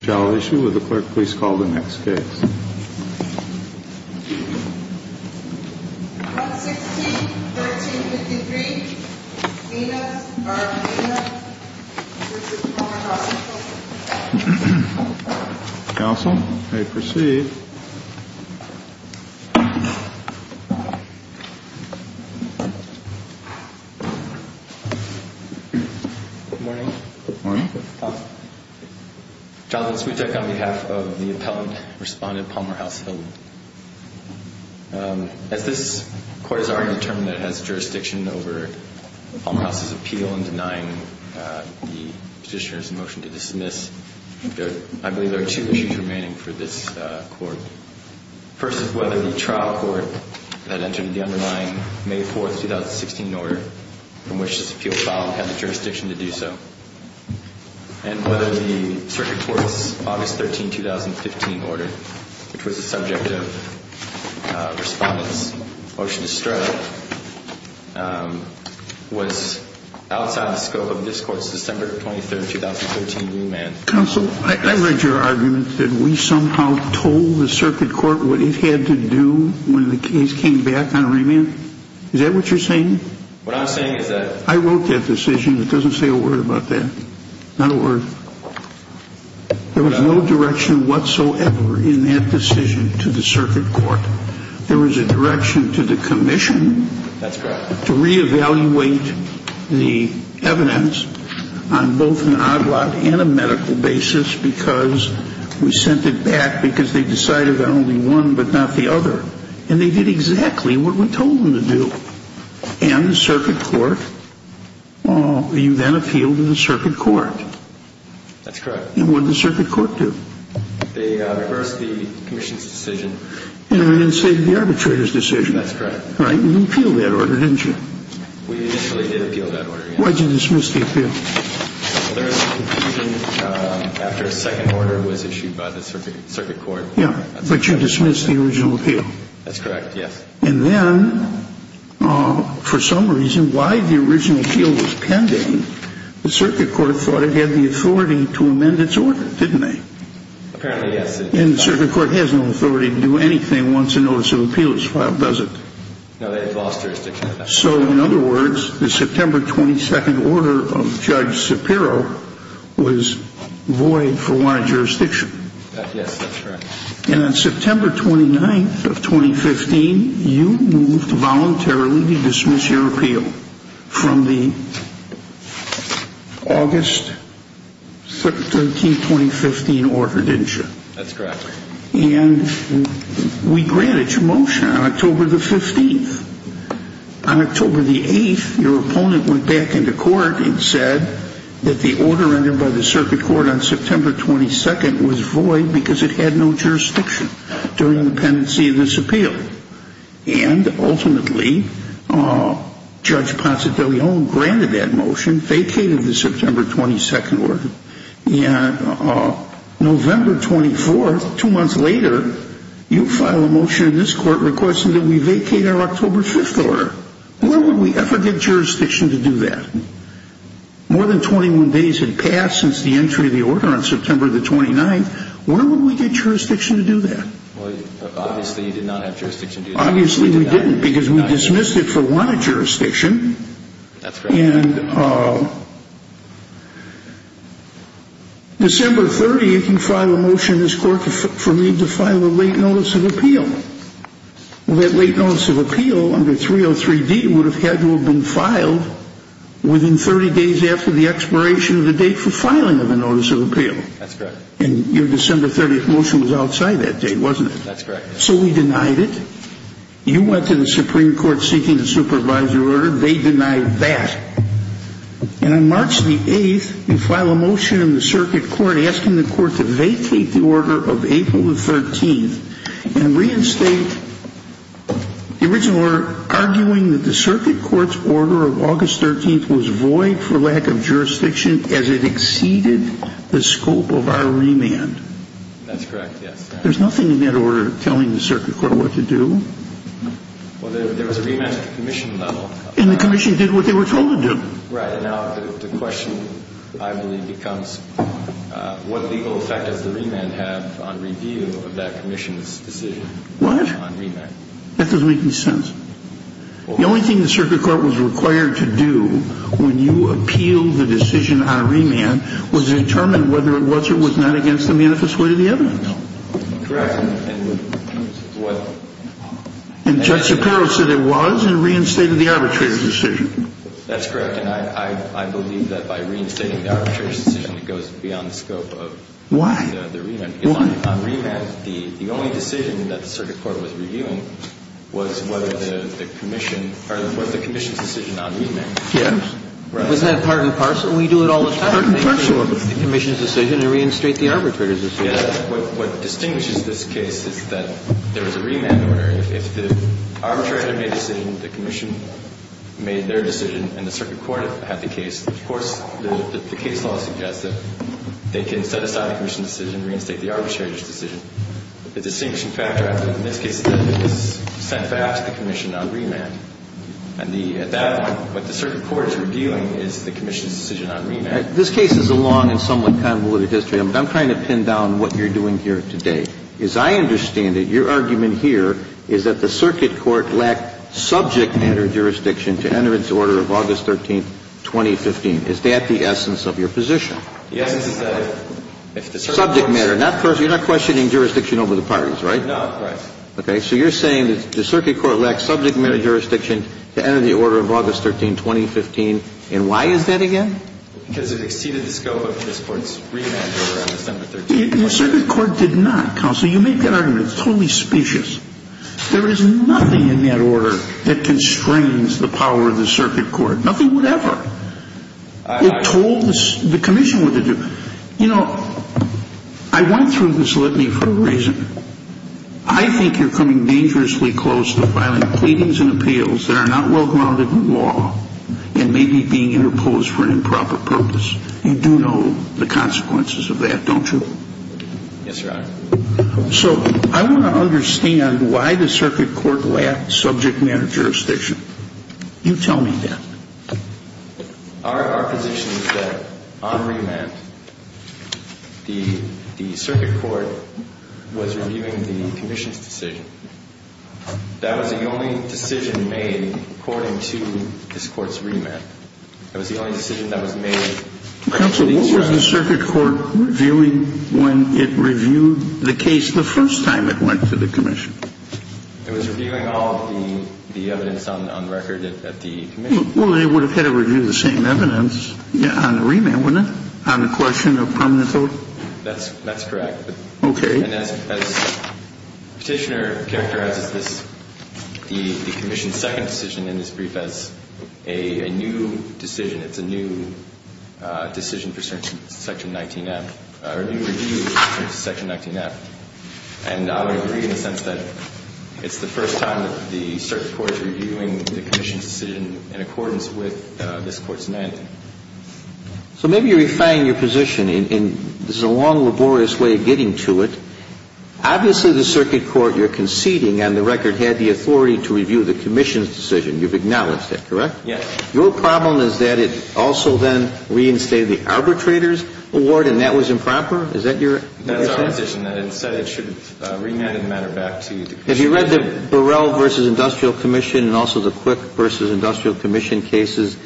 Shall issue with the clerk, please call the next case. Counsel, may proceed. Jonathan Smutek on behalf of the appellant, respondent Palmer House Hill. As this court has already determined that it has jurisdiction over Palmer House's appeal and denying the petitioner's motion to dismiss, I believe there are two issues remaining for this court. First is whether the trial court that entered into the underlying May 4, 2016 order from which this appeal filed had the jurisdiction to do so. And whether the circuit court's August 13, 2015 order, which was the subject of respondent's motion to strut, was outside the scope of this court's December 23, 2013 remand. Counsel, I read your argument that we somehow told the circuit court what it had to do when the case came back on remand. Is that what you're saying? What I'm saying is that... I wrote that decision. It doesn't say a word about that. Not a word. There was no direction whatsoever in that decision to the circuit court. There was a direction to the commission... That's correct. ...to reevaluate the evidence on both an odd lot and a medical basis because we sent it back because they decided on only one but not the other. And they did exactly what we told them to do. And the circuit court, well, you then appealed to the circuit court. That's correct. And what did the circuit court do? They reversed the commission's decision. And reinstated the arbitrator's decision. That's correct. Right. And you appealed that order, didn't you? We initially did appeal that order, yes. Why'd you dismiss the appeal? Well, there was a conclusion after a second order was issued by the circuit court. Yeah, but you dismissed the original appeal. That's correct, yes. And then, for some reason, why the original appeal was pending, the circuit court thought it had the authority to amend its order, didn't they? Apparently, yes. And the circuit court has no authority to do anything once a notice of appeal is filed, does it? No, they've lost jurisdiction. So, in other words, the September 22nd order of Judge Shapiro was void for wanted jurisdiction. Yes, that's correct. And on September 29th of 2015, you moved voluntarily to dismiss your appeal from the August 13th, 2015 order, didn't you? That's correct. And we granted your motion on October the 15th. On October the 8th, your opponent went back into court and said that the order rendered by the circuit court on September 22nd was void because it had no jurisdiction during the pendency of this appeal. And, ultimately, Judge Ponce de Leon granted that motion, vacated the September 22nd order. And November 24th, two months later, you file a motion in this court requesting that we vacate our October 5th order. Where would we ever get jurisdiction to do that? More than 21 days had passed since the entry of the order on September the 29th. Where would we get jurisdiction to do that? Well, obviously, you did not have jurisdiction to do that. Obviously, we didn't because we dismissed it for wanted jurisdiction. That's correct. And December 30th, you file a motion in this court for me to file a late notice of appeal. Well, that late notice of appeal under 303D would have had to have been filed within 30 days after the expiration of the date for filing of a notice of appeal. That's correct. And your December 30th motion was outside that date, wasn't it? That's correct. So we denied it. You went to the Supreme Court seeking to supervise your order. They denied that. And on March the 8th, you file a motion in the circuit court asking the court to vacate the order of April the 13th and reinstate the original order arguing that the circuit court's order of August 13th was void for lack of jurisdiction as it exceeded the scope of our remand. That's correct, yes. There's nothing in that order telling the circuit court what to do. Well, there was a remand at the commission level. And the commission did what they were told to do. Right. Now, the question, I believe, becomes what legal effect does the remand have on review of that commission's decision on remand? What? That doesn't make any sense. The only thing the circuit court was required to do when you appealed the decision on remand was determine whether it was or was not against the manifest weight of the evidence. Correct. And what? And Judge Shapiro said it was and reinstated the arbitrator's decision. That's correct. And I believe that by reinstating the arbitrator's decision, it goes beyond the scope of the remand. Why? On remand, the only decision that the circuit court was reviewing was whether the commission or the commission's decision on remand. Yes. Was that part and parcel? We do it all the time. Part and parcel of it. The commission's decision and reinstate the arbitrator's decision. What distinguishes this case is that there was a remand order. If the arbitrator made a decision, the commission made their decision, and the circuit court had the case, of course, the case law suggests that they can set aside the commission's decision and reinstate the arbitrator's decision. The distinguishing factor in this case is that it was sent back to the commission on remand. And at that point, what the circuit court is reviewing is the commission's decision on remand. This case is a long and somewhat convoluted history. I'm trying to pin down what you're doing here today. As I understand it, your argument here is that the circuit court lacked subject matter jurisdiction to enter its order of August 13, 2015. Is that the essence of your position? Yes. Subject matter. You're not questioning jurisdiction over the parties, right? No. Right. Okay. So you're saying that the circuit court lacked subject matter jurisdiction to enter the order of August 13, 2015. And why is that again? Because it exceeded the scope of this court's remand order on December 13, 2015. The circuit court did not, counsel. You made that argument. It's totally specious. There is nothing in that order that constrains the power of the circuit court. Nothing would ever. It told the commission what to do. You know, I went through this litany for a reason. I think you're coming dangerously close to filing pleadings and appeals that are not well-grounded in law and maybe being interposed for an improper purpose. You do know the consequences of that, don't you? Yes, Your Honor. So I want to understand why the circuit court lacked subject matter jurisdiction. You tell me that. Our position is that on remand, the circuit court was reviewing the commission's decision. That was the only decision made according to this court's remand. That was the only decision that was made. Counsel, what was the circuit court reviewing when it reviewed the case the first time it went to the commission? It was reviewing all of the evidence on record at the commission. Well, then it would have had to review the same evidence on the remand, wouldn't it, on the question of permanent vote? That's correct. Okay. And as Petitioner characterizes this, the commission's second decision in this brief has a new decision. It's a new decision for Section 19F, or a new review for Section 19F. And I would agree in the sense that it's the first time that the circuit court is reviewing the commission's decision in accordance with this court's remand. So maybe you're refining your position, and this is a long, laborious way of getting to it. Obviously, the circuit court you're conceding on the record had the authority to review the commission's decision. You've acknowledged that, correct? Yes. Your problem is that it also then reinstated the arbitrator's award, and that was improper? Is that your position? That's our position, that it said it should remand the matter back to the commission. Have you read the Burrell v. Industrial Commission and also the Quick v. Industrial Commission cases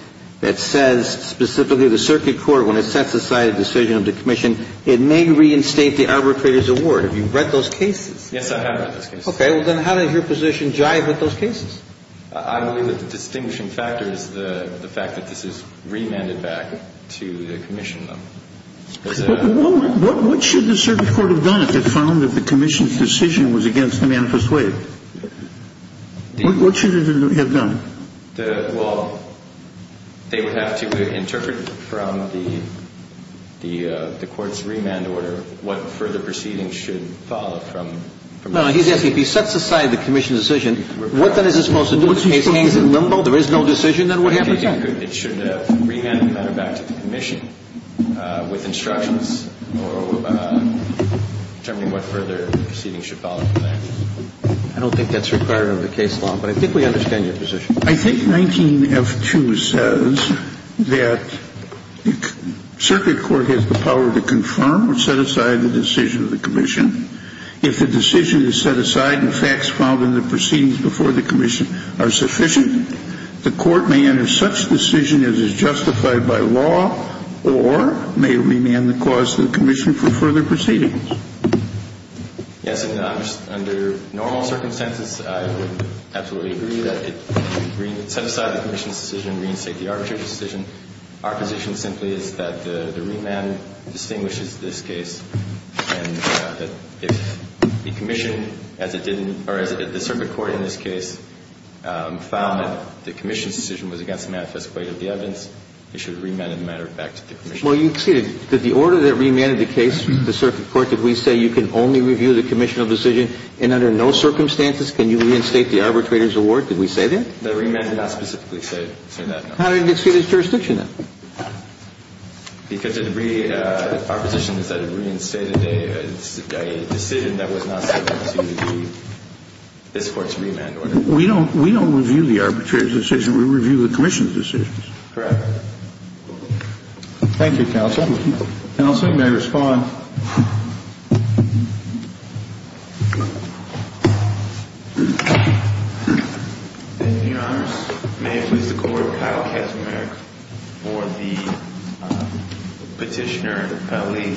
that says specifically the circuit court, when it sets aside a decision of the commission, it may reinstate the arbitrator's award? Have you read those cases? Yes, I have read those cases. Okay. Well, then how does your position jive with those cases? I believe that the distinguishing factor is the fact that this is remanded back to the commission. What should the circuit court have done if it found that the commission's decision was against the manifest way? What should it have done? Well, they would have to interpret from the court's remand order what further proceedings should follow from that decision. No, he's asking if he sets aside the commission's decision, what then is it supposed to do? The case hangs in limbo? There is no decision that would happen? It should have remanded the matter back to the commission with instructions or determining what further proceedings should follow from that. I don't think that's required under the case law, but I think we understand your position. I think 19F2 says that the circuit court has the power to confirm or set aside the decision of the commission. If the decision is set aside and facts found in the proceedings before the commission are sufficient, the court may enter such decision as is justified by law or may remand the cause to the commission for further proceedings. Yes. Under normal circumstances, I would absolutely agree that it would set aside the commission's decision and reinstate the arbitrary decision. Our position simply is that the remand distinguishes this case and that if the commission, as it did in the circuit court in this case, found that the commission's decision was against the manifest way of the evidence, it should remand the matter back to the commission. Well, you exceeded. Did the order that remanded the case to the circuit court that we say you can only review the commissional decision and under no circumstances can you reinstate the arbitrator's award, did we say that? The remand did not specifically say that, no. How did it exceed its jurisdiction then? Because our position is that it reinstated a decision that was not subject to this court's remand order. We don't review the arbitrator's decision. We review the commission's decisions. Correct. Thank you, counsel. Counsel, you may respond. Your Honor, may I please record Kyle Katzenberg for the petitioner, Lee.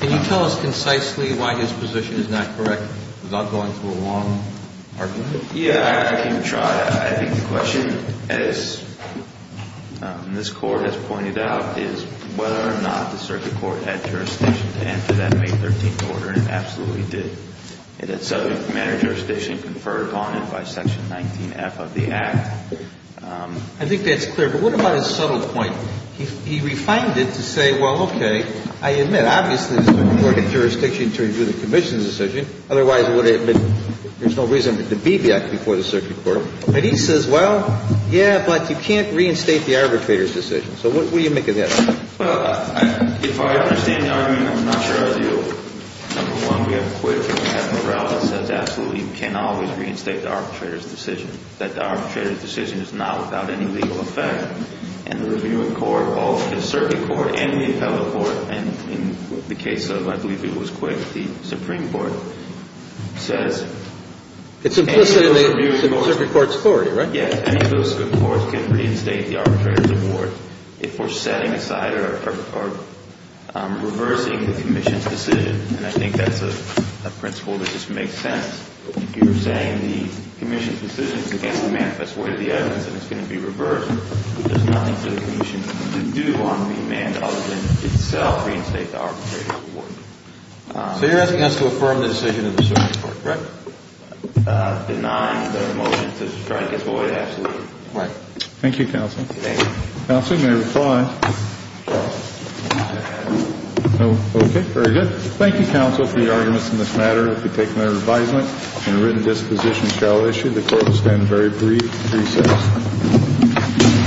Can you tell us concisely why his position is not correct without going through a long argument? Yeah, I can try. I think the question, as this Court has pointed out, is whether or not the circuit court had jurisdiction to enter that May 13th order, and it absolutely did. It had subject matter jurisdiction conferred upon it by Section 19F of the Act. I think that's clear. But what about his subtle point? He refined it to say, well, okay, I admit, obviously, there's no jurisdiction to review the commission's decision. Otherwise, it would have been, there's no reason for it to be before the circuit court. But he says, well, yeah, but you can't reinstate the arbitrator's decision. So what do you make of that? Well, if I understand the argument, I'm not sure I do. Number one, we have a quid pro quo. We have morale that says absolutely you can't always reinstate the arbitrator's decision, that the arbitrator's decision is not without any legal effect. And the reviewing court, both the circuit court and the appellate court, and in the case of, I believe it was Quick, the Supreme Court, says any of those reviewing It's implicit in the circuit court's authority, right? Yes. Any of those courts can reinstate the arbitrator's award if we're setting aside or reversing the commission's decision. And I think that's a principle that just makes sense. If you're setting the commission's decision against the manifest way of the evidence and it's going to be reversed, there's nothing for the commission to do on the amended So you're asking us to affirm the decision of the circuit court, correct? Deny the motion to strike as void absolutely. Right. Thank you, counsel. Counsel, you may reply. No. Okay. Very good. Thank you, counsel, for your arguments in this matter. If you take no advisement and written disposition shall issue, the court will stand in very brief recess. Thank you. Thank you. Thank you.